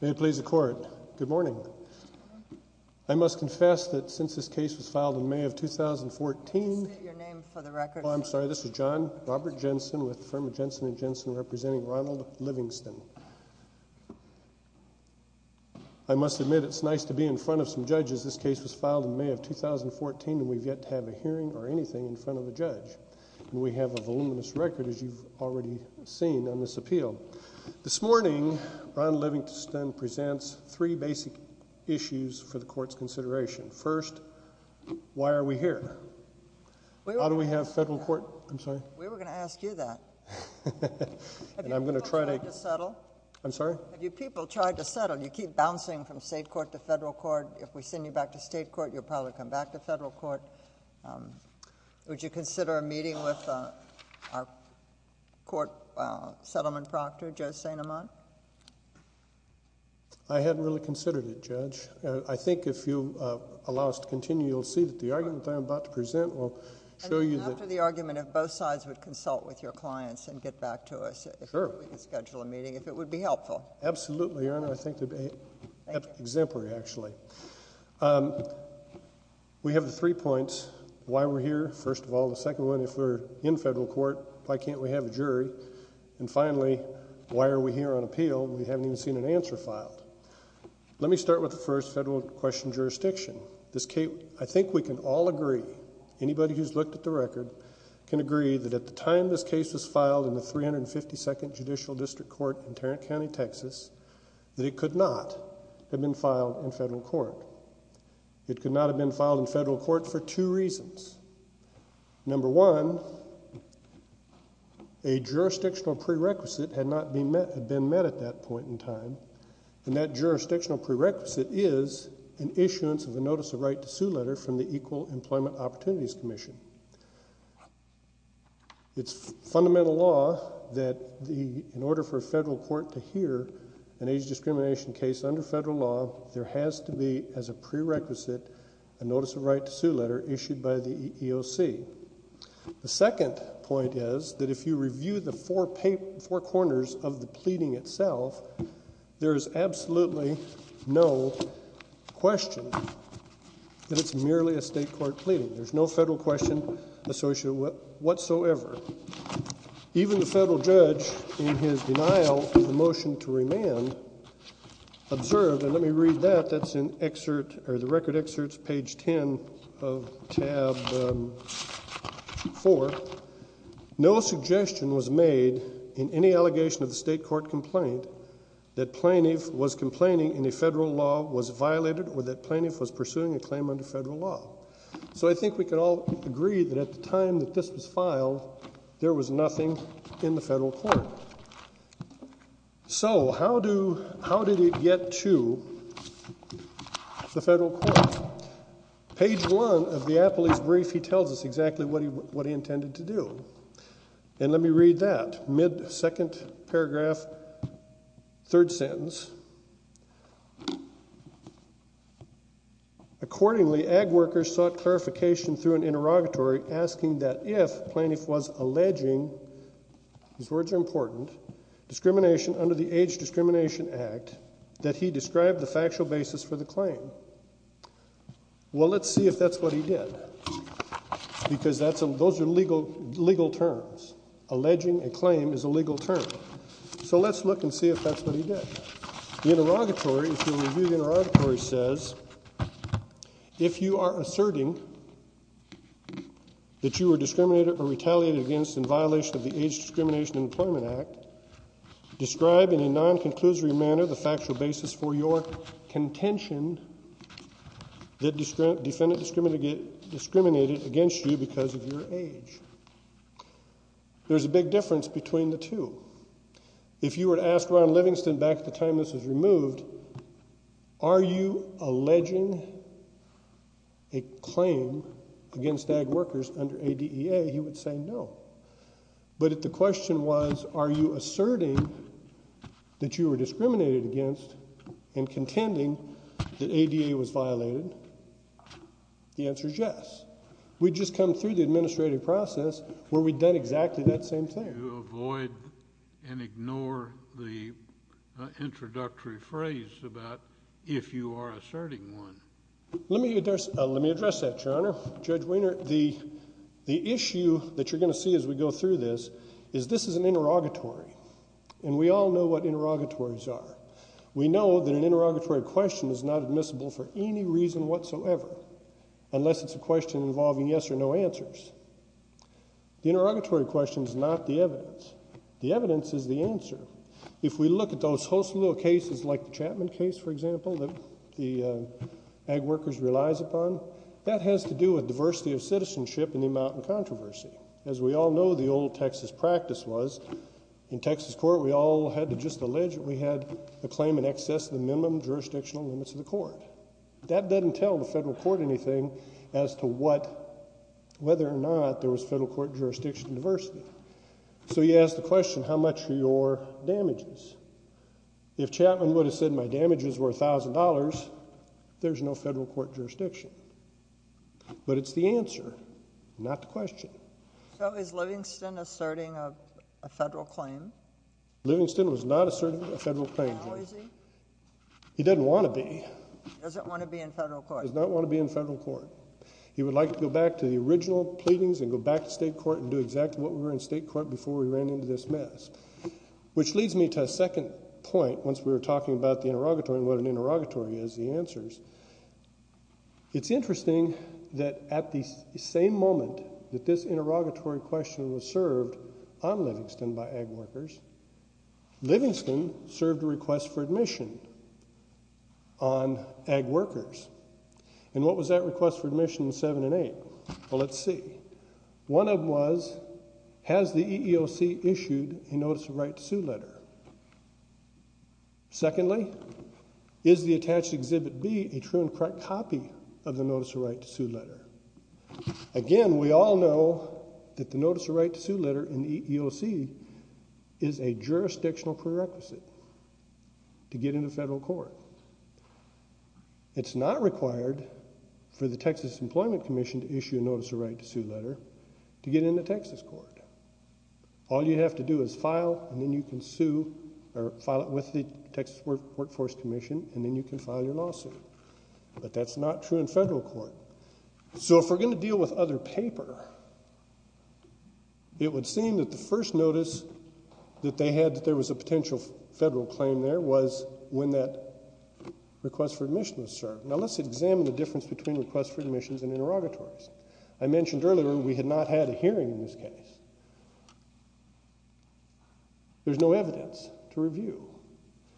May it please the Court, good morning. I must confess that since this case was filed in May of 2014, I'm sorry this is John Robert Jensen with the firm of Jensen & Jensen representing Ronald Livingston. I must admit it's nice to be in front of some judges. This case was filed in May of 2014 and we've yet to have a hearing or anything in front of a judge. We have a voluminous record as you've already seen on this appeal. This morning, Ronald Livingston presents three basic issues for the Court's consideration. First, why are we here? How do we have federal court? I'm sorry. We were going to ask you that. And I'm going to try to settle. I'm sorry? Have you people tried to settle? You keep bouncing from state court to federal court. If we send you back to state court, you'll probably come back to federal court. Would you consider a meeting with our court settlement proctor, Joe St. Amant? I hadn't really considered it, Judge. I think if you allow us to continue, you'll see that the argument I'm about to present will show you that... After the argument, if both sides would consult with your clients and get back to us, if we could schedule a meeting, if it would be helpful. Absolutely, Your Honor. I think it would be exemplary, actually. We have the three points. Why we're here, first of all. The second one, if we're in federal court, why can't we have a jury? And finally, why are we here on appeal when we haven't even seen an answer filed? Let me start with the first federal question, jurisdiction. I think we can all agree, anybody who's looked at the record can agree that at the time this case was filed in the 352nd Judicial District Court in Tarrant County, Texas, that it could not have been filed in federal court. It could not have been filed in federal court for two reasons. Number one, a jurisdictional prerequisite had not been met at that point in time, and that jurisdictional prerequisite is an issuance of a notice of right to sue letter from the Equal Employment Opportunities Commission. It's in order for a federal court to hear an age discrimination case under federal law, there has to be, as a prerequisite, a notice of right to sue letter issued by the EEOC. The second point is that if you review the four corners of the pleading itself, there is absolutely no question that it's merely a state court pleading. There's no federal question associated whatsoever. Even the federal judge, in his denial of the motion to remand, observed, and let me read that, that's in excerpt, or the record excerpts, page 10 of tab 4, no suggestion was made in any allegation of the state court complaint that plaintiff was complaining in a federal law was violated or that plaintiff was pursuing a claim under federal law. So I think we can all agree that at the time that this was filed, there was nothing in the federal court. So how do, how did it get to the federal court? Page 1 of the Appley's brief, he tells us exactly what he, what he intended to do. And let me read that, mid-second paragraph, third sentence. Accordingly, ag workers sought clarification through an interrogatory asking that if plaintiff was alleging, these words are important, discrimination under the Age Discrimination Act, that he described the factual basis for the claim. Well, let's see if that's what he did. Because that's a, those are legal, legal terms. Alleging a claim is a legal term. So let's look and see if that's what he did. The interrogatory, if you review the interrogatory, says, if you are discriminated or retaliated against in violation of the Age Discrimination and Employment Act, describe in a non-conclusory manner the factual basis for your contention that defendant discriminated against you because of your age. There's a big difference between the two. If you were to ask Ron Livingston back at the time this was removed, are you alleging a claim? If you were to ask Ron Livingston back at the time this was removed, under ADEA, he would say no. But if the question was, are you asserting that you were discriminated against and contending that ADEA was violated, the answer is yes. We'd just come through the administrative process where we'd done exactly that same thing. You avoid and ignore the introductory phrase about if you are asserting one. Let me address, let me address that, Your Honor. Judge the issue that you're going to see as we go through this is this is an interrogatory, and we all know what interrogatories are. We know that an interrogatory question is not admissible for any reason whatsoever unless it's a question involving yes or no answers. The interrogatory question is not the evidence. The evidence is the answer. If we look at those hostile cases like the Chapman case, for example, that the ag workers relies upon, that has to do with a claim out in controversy. As we all know the old Texas practice was, in Texas court we all had to just allege that we had a claim in excess of the minimum jurisdictional limits of the court. That doesn't tell the federal court anything as to what, whether or not there was federal court jurisdiction diversity. So you ask the question, how much are your damages? If Chapman would have said my damages were a thousand dollars, there's no federal court jurisdiction. But it's the answer, not the question. So is Livingston asserting a federal claim? Livingston was not asserting a federal claim. How is he? He doesn't want to be. He doesn't want to be in federal court. He does not want to be in federal court. He would like to go back to the original pleadings and go back to state court and do exactly what we were in state court before we ran into this mess. Which leads me to a second point once we were talking about the interrogatory and what an interrogatory is, the answers. It's interesting that at the same moment that this interrogatory question was served on Livingston by ag workers, Livingston served a request for admission on ag workers. And what was that request for admission in 7 and 8? Well, let's see. One of them was, has the EEOC issued a notice of right to sue letter? Secondly, is the EEOC issued a notice of right to sue letter? Again, we all know that the notice of right to sue letter in the EEOC is a jurisdictional prerequisite to get into federal court. It's not required for the Texas Employment Commission to issue a notice of right to sue letter to get into Texas court. All you have to do is file and then you can sue or file it with the Texas Workforce Commission and you can file your lawsuit. But that's not true in federal court. So if we're going to deal with other paper, it would seem that the first notice that they had that there was a potential federal claim there was when that request for admission was served. Now let's examine the difference between requests for admissions and interrogatories. I mentioned earlier we had not had a hearing in this case. There's no evidence to review.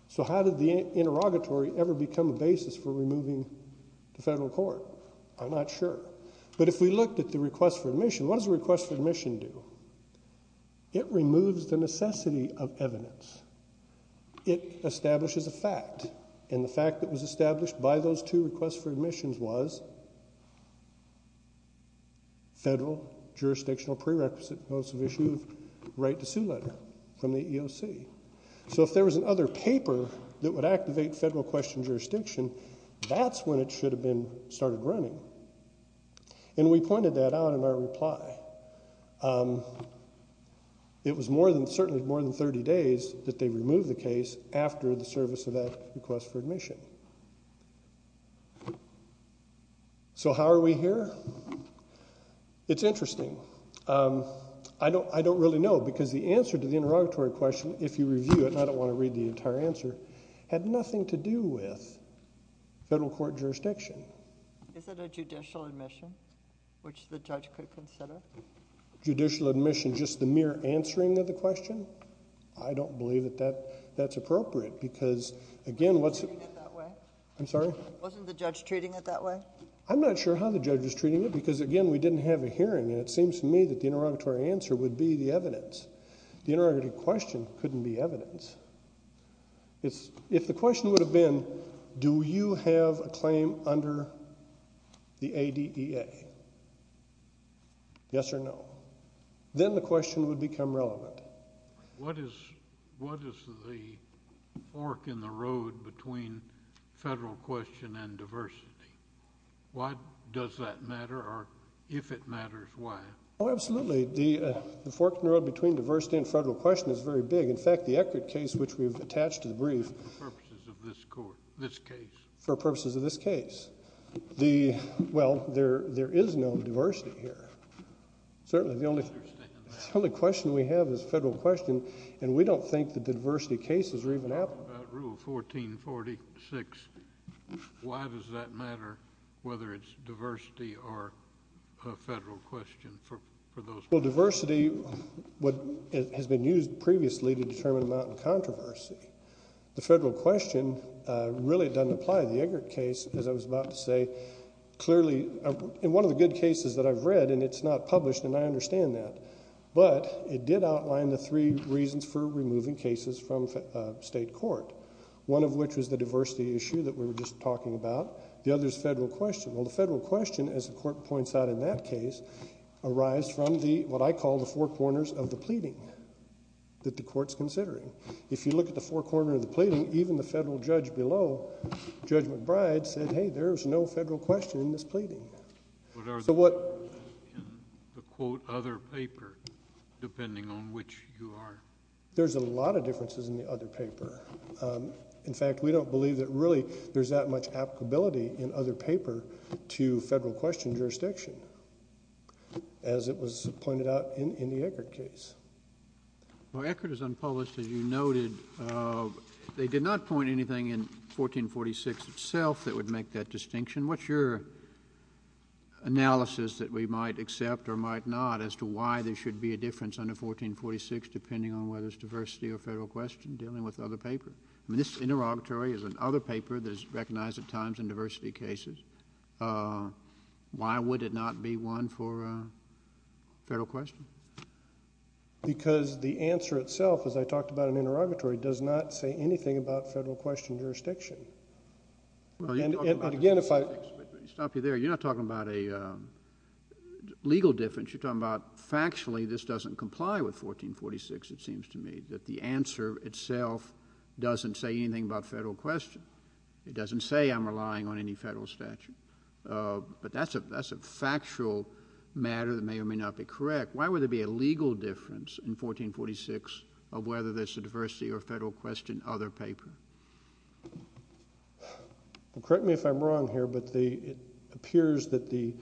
So how did the interrogatory ever become a basis for removing the federal court? I'm not sure. But if we looked at the request for admission, what does a request for admission do? It removes the necessity of evidence. It establishes a fact and the fact that was established by those two requests for admissions was federal jurisdictional prerequisite notice of issue of right to sue letter from the EEOC. So if there was another paper that would activate federal question jurisdiction, that's when it should have been started running. And we pointed that out in our reply. It was more than certainly more than 30 days that they removed the case after the service of that request for admission. So how are we here? It's interesting. I don't really know because the answer to the interrogatory, the entire answer, had nothing to do with federal court jurisdiction. Is it a judicial admission which the judge could consider? Judicial admission, just the mere answering of the question? I don't believe that that's appropriate because, again, what's... Wasn't the judge treating it that way? I'm not sure how the judge was treating it because, again, we didn't have a hearing and it seems to me that the interrogatory answer would be the If the question would have been, do you have a claim under the ADEA? Yes or no? Then the question would become relevant. What is the fork in the road between federal question and diversity? Why does that matter or if it matters, why? Oh, absolutely. The fork in the road between diversity and federal question is very big. In fact, the Eckert case which we've attached to the brief... For purposes of this court, this case. For purposes of this case. Well, there is no diversity here. Certainly the only... I understand that. The only question we have is federal question and we don't think that the diversity cases are even out... About Rule 1446, why does that matter whether it's diversity or a federal question for those... Well, diversity has been used previously to determine amount of controversy. The federal question really doesn't apply. The Eckert case, as I was about to say, clearly... In one of the good cases that I've read and it's not published and I understand that, but it did outline the three reasons for removing cases from state court. One of which was the diversity issue that we were just talking about. The other is federal question. Well, the federal question, as the court points out in that case, arise from the, what I call, the four corners of the pleading that the court's considering. If you look at the four corners of the pleading, even the federal judge below, Judge McBride, said, hey, there's no federal question in this pleading. But are there... So what... In the quote, other paper, depending on which you are... There's a lot of differences in the other paper. In fact, we don't believe that really there's that much applicability in other paper to federal question jurisdiction, as it was pointed out in the Eckert case. Well, Eckert is unpublished, as you noted. They did not point anything in 1446 itself that would make that distinction. What's your analysis that we might accept or might not as to why there should be a difference under 1446 depending on whether it's diversity or federal question dealing with another paper that is recognized at times in diversity cases? Why would it not be one for federal question? Because the answer itself, as I talked about in interrogatory, does not say anything about federal question jurisdiction. Well, you're talking about... And again, if I... Let me stop you there. You're not talking about a legal difference. You're talking about factually this doesn't comply with 1446, it seems to me, that the answer itself doesn't say anything about federal question. It doesn't say I'm relying on any federal statute. But that's a factual matter that may or may not be correct. Why would there be a legal difference in 1446 of whether there's a diversity or federal question other paper? Correct me if I'm wrong here, but it appears that the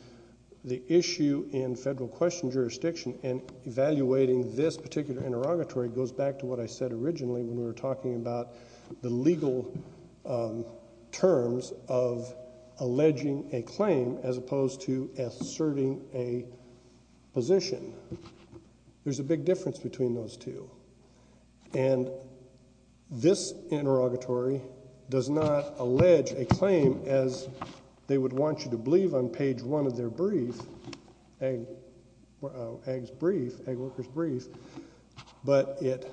issue in federal question jurisdiction in evaluating this particular interrogatory goes back to what I said originally when we were talking about the legal terms of alleging a claim as opposed to asserting a position. There's a big difference between those two. And this interrogatory does not allege a claim as they would want you to believe on page one of their brief, Ag's brief, Ag Worker's brief, but it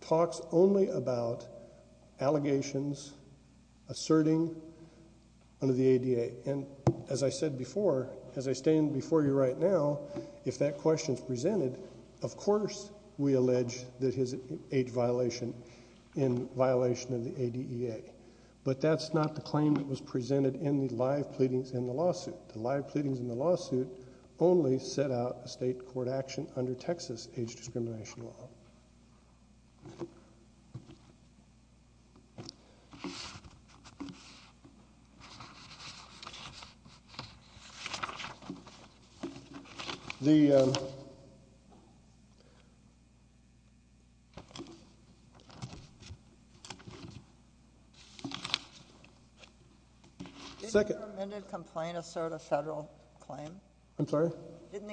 talks only about allegations asserting under the ADA. And as I said before, as I stand before you right now, if that question is presented, of course we allege that his age violation in violation of the ADEA. But that's not the live pleadings in the lawsuit. The live pleadings in the lawsuit only set out a state court action under Texas age discrimination law. The second amendment complaint assert a federal claim? I'm sorry? Didn't the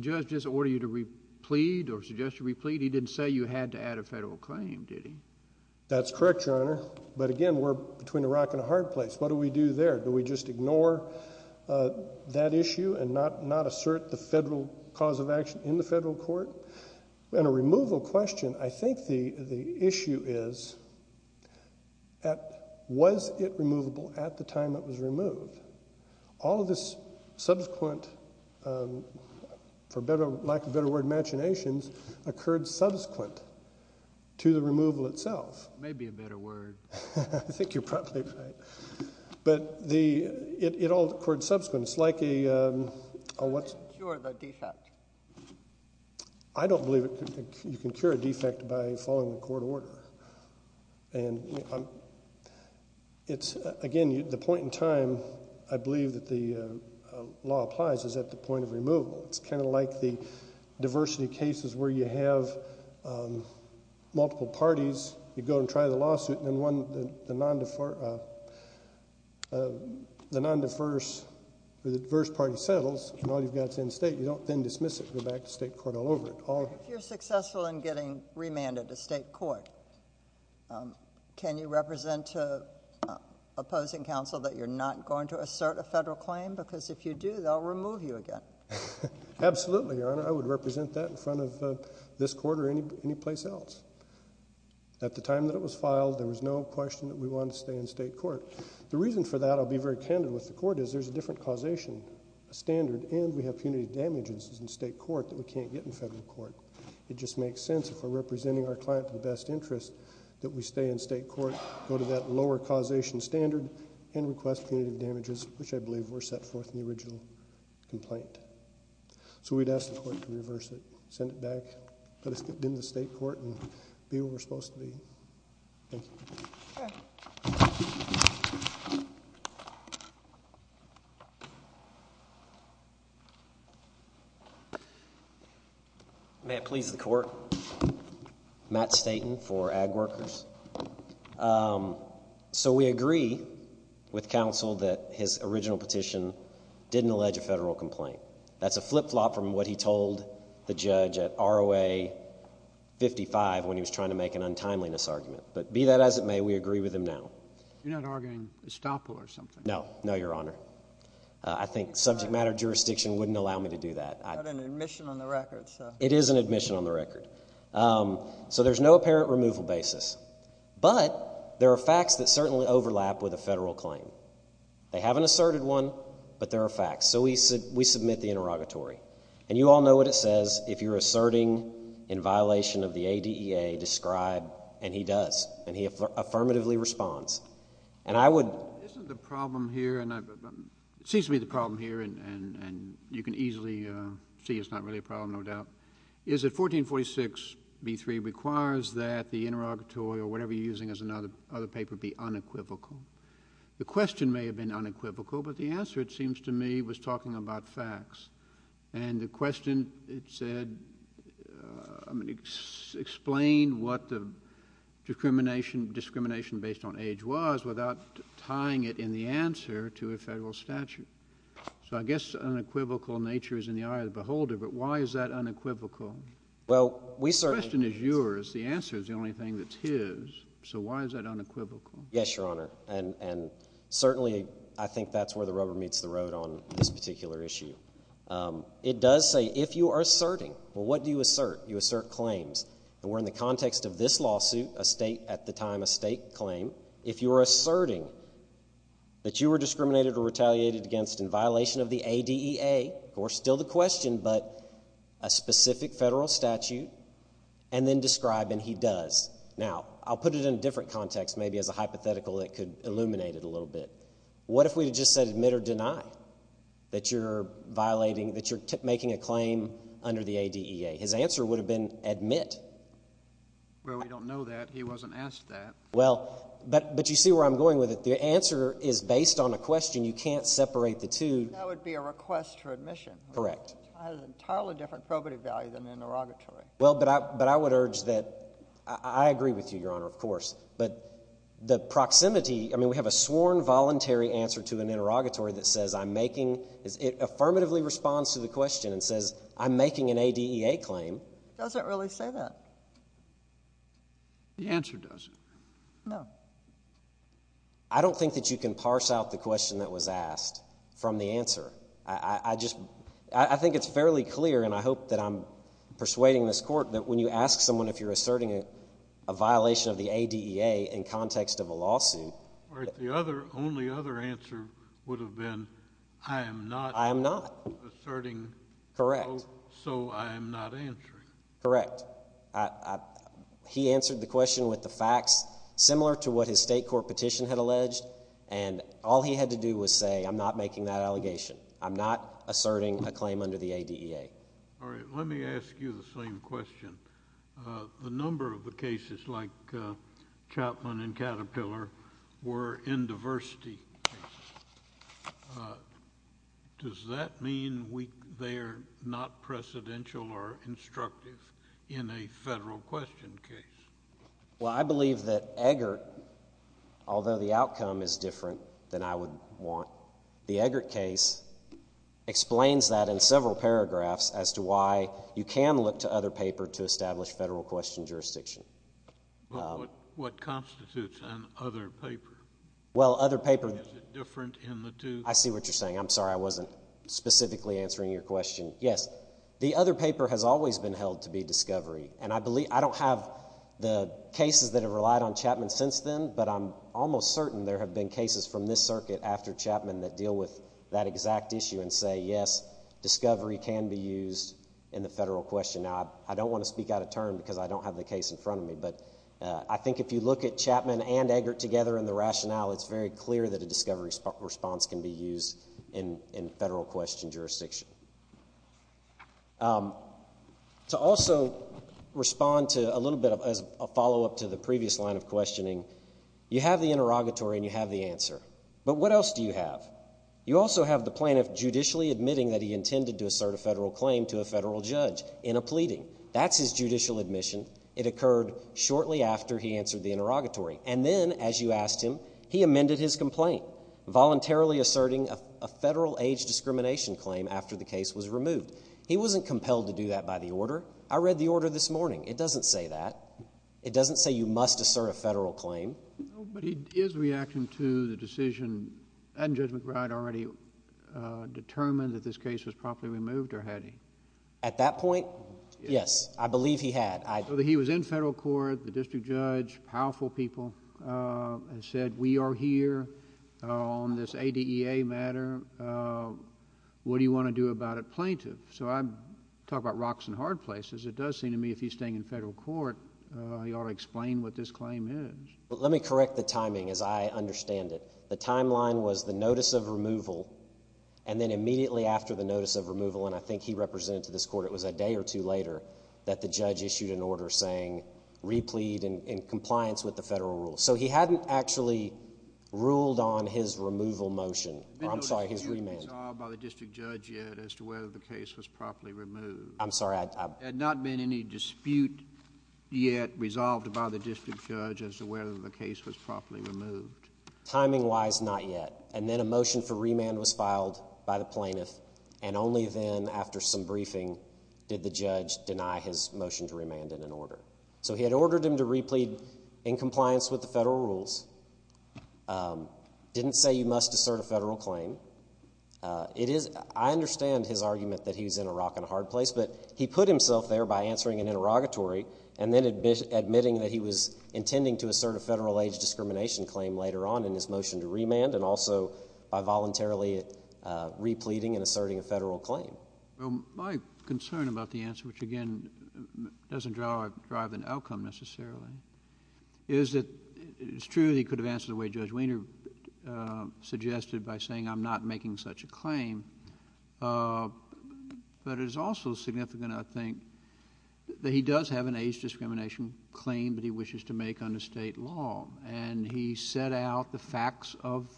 judge just order you to re-plead or suggest you re-plead? He didn't say you had to add a federal claim, did he? That's correct, Your Honor. But again, we're between a rock and a hard place. What do we do there? Do we just ignore that issue and not assert the federal cause of action in the federal court? And a removal question, I think the issue is, was it removable at the time it was removed? All of this subsequent, for lack of a better word, occurred subsequent to the removal itself. Maybe a better word. I think you're probably right. But it all occurred subsequent. I don't believe you can cure a defect by following the court order. And again, the point in time I believe that the law applies is at the point of removal. It's kind of like the diversity cases where you have multiple parties, you go and try the lawsuit, and then the non-diverse or the diverse party settles, and all you've got is in-state. You don't then dismiss it and go back to state court all over it. If you're successful in getting remanded to state court, can you represent opposing counsel that you're not going to represent that in front of this court or any place else? At the time that it was filed, there was no question that we wanted to stay in state court. The reason for that, I'll be very candid with the court, is there's a different causation standard and we have punitive damages in state court that we can't get in federal court. It just makes sense if we're representing our client in the best interest that we stay in state court, go to that lower causation standard, and request punitive damages, which I believe were set forth in the original complaint. So we'd ask the court to reverse it, send it back, put it in the state court, and be where we're supposed to be. Thank you. May it please the court. Matt Staton for Ag Workers. So we agree with counsel that his original petition didn't allege a federal complaint. That's a flip-flop from what he told the judge at ROA 55 when he was trying to make an untimeliness argument. But be that as it may, we agree with him now. You're not arguing estoppel or something? No. No, Your Honor. I think subject matter jurisdiction wouldn't allow me to do that. It is an admission on the record. So there's no apparent removal basis. But there are facts that certainly overlap with a federal claim. They haven't asserted one, but there are facts. So we submit the interrogatory. And you all know what it says. If you're asserting in violation of the ADEA, describe. And he does. And he affirmatively responds. And I would... Isn't the problem here, and it seems to be the problem here, and you can easily see it's not really a problem, no doubt, is that 1446b3 requires that the interrogatory or whatever you're using as another paper be unequivocal. The question may have been unequivocal, but the answer, it seems to me, was talking about facts. And the question, it said, I mean, explain what the discrimination based on age was without tying it in the answer to a federal statute. So I guess unequivocal nature is in the eye of the beholder, but why is that unequivocal? The question is yours. The answer is the only thing that's his. So why is that unequivocal? Yes, Your Honor. And certainly, I think that's where the rubber meets the road on this particular issue. It does say, if you are asserting, well, what do you assert? You assert claims. And we're in the context of this lawsuit, a state, at the time, a state claim. If you are asserting that you were discriminated or retaliated against in violation of the ADEA, of course, still the question, but a specific federal statute, and then describe and he does. Now, I'll put it in a different context, maybe as a hypothetical that could illuminate it a little bit. What if we had just said admit or deny that you're violating, that you're making a claim under the ADEA? His answer would have been admit. Well, we don't know that. He wasn't asked that. Well, but you see where I'm going with it. The answer is based on a question. You can't separate the two. That would be a request for admission. Correct. That has an entirely different probative value than an interrogatory. Well, but I would urge that, I agree with you, Your Honor, of course. But the proximity, I mean, we have a sworn voluntary answer to an interrogatory that says, I'm making, it affirmatively responds to the question and says, I'm making an ADEA claim. It doesn't really say that. The answer doesn't. No. I don't think that you can parse out the question that was asked from the answer. I just, I think it's fairly clear, and I hope that I'm persuading this Court, that when you ask someone if you're asserting a violation of the ADEA in context of a lawsuit. All right, the other, only other answer would have been, I am not. I am not. Asserting. Correct. So I am not answering. Correct. I, I, he answered the question with the facts similar to what his state court petition had alleged, and all he had to do was say, I'm not making that allegation. I'm not asserting a claim under the ADEA. All right, let me ask you the same question. The number of the cases like Chapman and Caterpillar were in diversity. Does that mean we, they are not precedential or instructive in a federal question case? Well, I believe that Eggert, although the outcome is different than I would want, the Eggert case explains that in several paragraphs as to why you can look to other paper to establish federal question jurisdiction. But what, what constitutes an other paper? Well, other paper. Is it different in the two? I see what you're saying. I'm sorry, I wasn't specifically answering your question. Yes. The other paper has always been held to be discovery, and I believe, I don't have the cases that have relied on Chapman since then, but I'm almost certain there have been cases from this circuit after Chapman that deal with that exact issue and say, yes, discovery can be used in the federal question. Now, I don't want to speak out of turn because I don't have the case in front of me, but I think if you look at the rationale, it's very clear that a discovery response can be used in federal question jurisdiction. To also respond to a little bit of a follow-up to the previous line of questioning, you have the interrogatory and you have the answer, but what else do you have? You also have the plaintiff judicially admitting that he intended to assert a federal claim to a federal judge in a pleading. That's his judicial admission. It occurred shortly after he answered the interrogatory, and then, as you asked him, he amended his complaint, voluntarily asserting a federal age discrimination claim after the case was removed. He wasn't compelled to do that by the order. I read the order this morning. It doesn't say that. It doesn't say you must assert a federal claim. But his reaction to the decision hadn't Judge McBride already determined that this case was properly removed, or had he? At that point, yes, I believe he had. So he was in federal court, the district judge, powerful people, and said, We are here on this ADEA matter. What do you want to do about it, plaintiff? So I'm talking about rocks and hard places. It does seem to me if he's staying in federal court, he ought to explain what this claim is. Let me correct the timing as I understand it. The timeline was the notice of removal, and then immediately after the notice of removal, and I think he represented to this court, it was a day or two later, that the judge issued an order saying replead in compliance with the federal rules. So he hadn't actually ruled on his removal motion. I'm sorry, his remand. There had been no dispute resolved by the district judge yet as to whether the case was properly removed. I'm sorry. There had not been any dispute yet resolved by the district judge as to whether the case was properly removed. Timing-wise, not yet. And then a motion for remand was filed by the plaintiff, and only then, after some briefing, did the judge deny his motion to remand in an order. So he had ordered him to replead in compliance with the federal rules. Didn't say you must assert a federal claim. I understand his argument that he was in a rock and a hard place, but he put himself there by answering an interrogatory and then admitting that he was intending to assert a federal age discrimination claim later on in his motion to remand, and also by voluntarily repleting and asserting a federal claim. Well, my concern about the answer, which, again, doesn't drive an outcome necessarily, is that it's true that he could have answered the way Judge Wiener suggested by saying I'm not making such a claim, but it is also significant, I think, that he does have an age discrimination claim that he wishes to make under State law. And he set out the facts of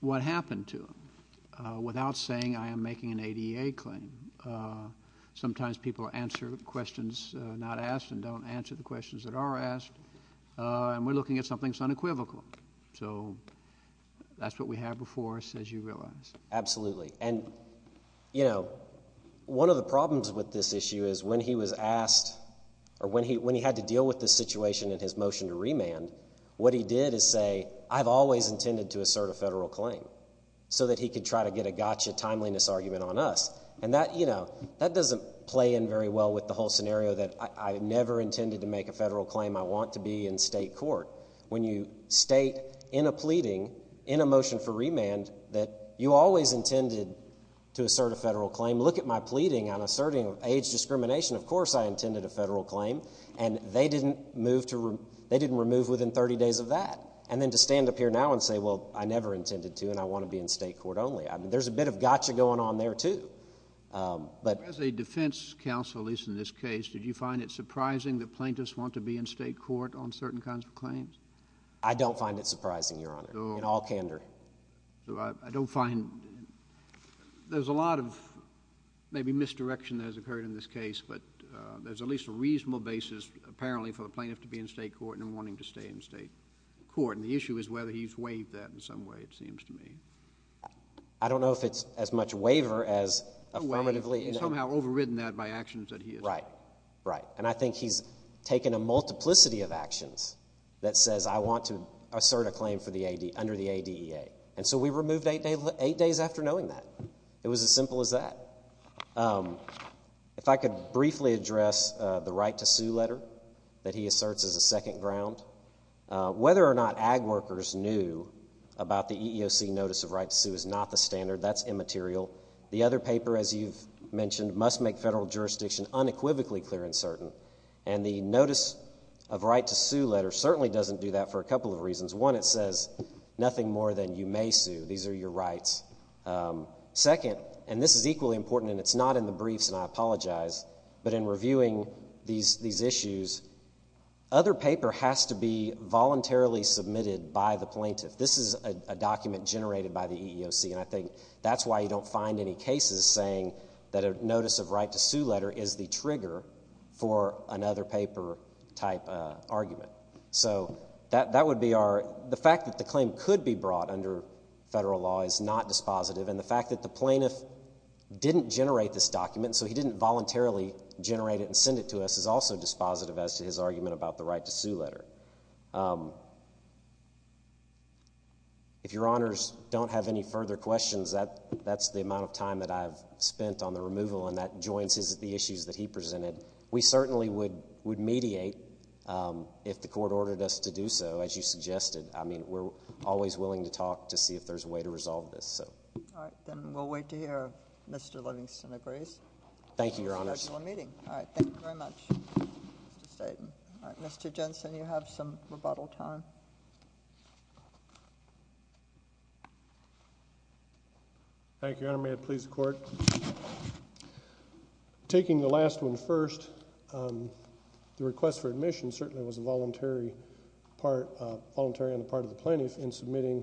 what happened to him without saying I am making an ADA claim. Sometimes people answer questions not asked and don't answer the questions that are asked, and we're looking at something that's unequivocal. So that's what we have before us, as you realize. Absolutely. And, you know, one of the problems with this issue is when he was asked or when he had to deal with this situation in his motion to remand, what he did is say I've always intended to assert a federal claim so that he could try to get a gotcha timeliness argument on us. And that, you know, that doesn't play in very well with the whole scenario that I never intended to make a federal claim, I want to be in State court. When you state in a pleading, in a motion for remand, that you always intended to assert a federal claim, look at my pleading on asserting age discrimination. Of course I intended a federal claim. And they didn't remove within 30 days of that. And then to stand up here now and say, well, I never intended to and I want to be in State court only. There's a bit of gotcha going on there, too. As a defense counsel, at least in this case, did you find it surprising that plaintiffs want to be in State court on certain kinds of claims? I don't find it surprising, Your Honor, in all candor. I don't find there's a lot of maybe misdirection that has occurred in this case, but there's at least a reasonable basis apparently for a plaintiff to be in State court and wanting to stay in State court. And the issue is whether he's waived that in some way, it seems to me. I don't know if it's as much waiver as affirmatively. He's somehow overridden that by actions that he has taken. Right, right. And I think he's taken a multiplicity of actions that says I want to assert a claim under the ADEA. And so we removed eight days after knowing that. It was as simple as that. If I could briefly address the right to sue letter that he asserts as a second ground. Whether or not ag workers knew about the EEOC notice of right to sue is not the standard. That's immaterial. The other paper, as you've mentioned, must make federal jurisdiction unequivocally clear and certain. And the notice of right to sue letter certainly doesn't do that for a couple of reasons. One, it says nothing more than you may sue. These are your rights. Second, and this is equally important, and it's not in the briefs, and I apologize, but in reviewing these issues, other paper has to be voluntarily submitted by the plaintiff. This is a document generated by the EEOC, and I think that's why you don't find any cases saying that a notice of right to sue letter is the trigger for another paper type argument. So that would be our ‑‑ the fact that the claim could be brought under federal law is not dispositive, and the fact that the plaintiff didn't generate this document, so he didn't voluntarily generate it and send it to us, is also dispositive as to his argument about the right to sue letter. If Your Honors don't have any further questions, that's the amount of time that I've spent on the removal, and that joins the issues that he presented. We certainly would mediate if the court ordered us to do so, as you suggested. I mean, we're always willing to talk to see if there's a way to resolve this. All right. Then we'll wait to hear if Mr. Livingston agrees. Thank you, Your Honors. All right. Thank you very much, Mr. Staton. Mr. Jensen, you have some rebuttal time. Thank you, Your Honor. May it please the Court. Taking the last one first, the request for admission certainly was a voluntary part of the plaintiff in submitting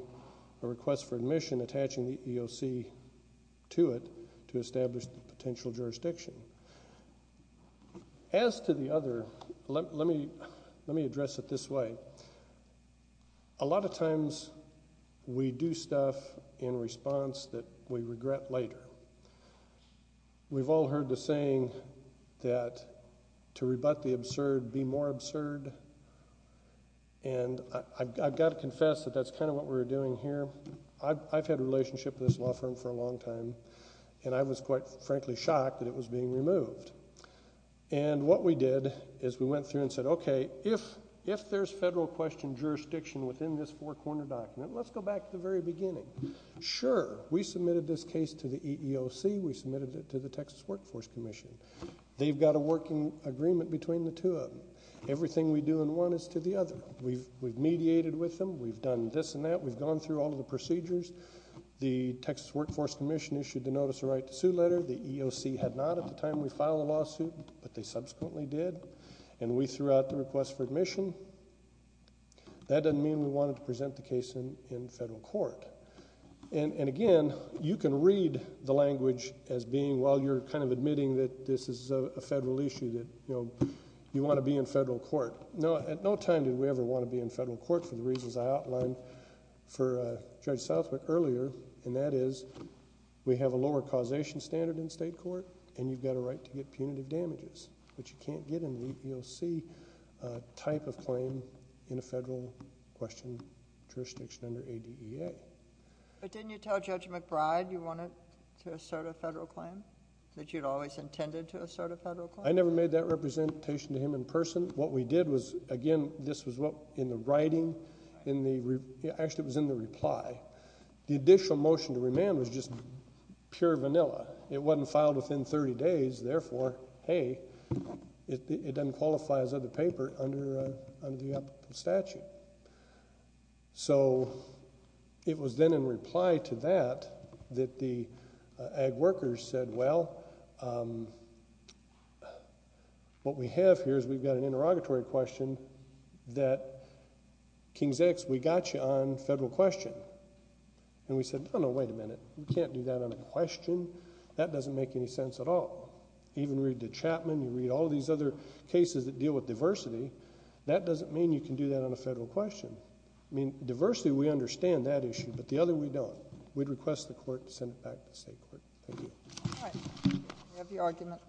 a request for admission attaching the EOC to it to establish the potential jurisdiction. As to the other, let me address it this way. A lot of times we do stuff in response that we regret later. We've all heard the saying that to rebut the absurd, be more absurd, and I've got to confess that that's kind of what we're doing here. I've had a relationship with this law firm for a long time, and I was quite frankly shocked that it was being removed. What we did is we went through and said, okay, if there's federal question jurisdiction within this four-corner document, let's go back to the very beginning. Sure, we submitted this case to the EEOC. We submitted it to the Texas Workforce Commission. They've got a working agreement between the two of them. Everything we do in one is to the other. We've mediated with them. We've done this and that. We've gone through all of the procedures. The Texas Workforce Commission issued the notice of right to sue letter. The EEOC had not at the time we filed the lawsuit, but they subsequently did. We threw out the request for admission. That doesn't mean we wanted to present the case in federal court. Again, you can read the language as being while you're kind of admitting that this is a federal issue that you want to be in federal court. At no time did we ever want to be in federal court for the reasons I outlined for Judge Southwick earlier, and that is we have a lower causation standard in state court, and you've got a right to get punitive damages, which you can't get in the EEOC type of claim in a federal question jurisdiction under ADEA. But didn't you tell Judge McBride you wanted to assert a federal claim, that you'd always intended to assert a federal claim? I never made that representation to him in person. What we did was, again, this was in the writing. Actually, it was in the reply. The additional motion to remand was just pure vanilla. It wasn't filed within 30 days. Therefore, hey, it doesn't qualify as other paper under the statute. So it was then in reply to that that the ag workers said, well, what we have here is we've got an interrogatory question that, King's X, we got you on federal question. And we said, no, no, wait a minute. We can't do that on a question. That doesn't make any sense at all. Even read the Chapman. You read all these other cases that deal with diversity. That doesn't mean you can do that on a federal question. Diversity, we understand that issue, but the other, we don't. We'd request the Court to send it back to the State Court. Thank you. All right. We have your argument.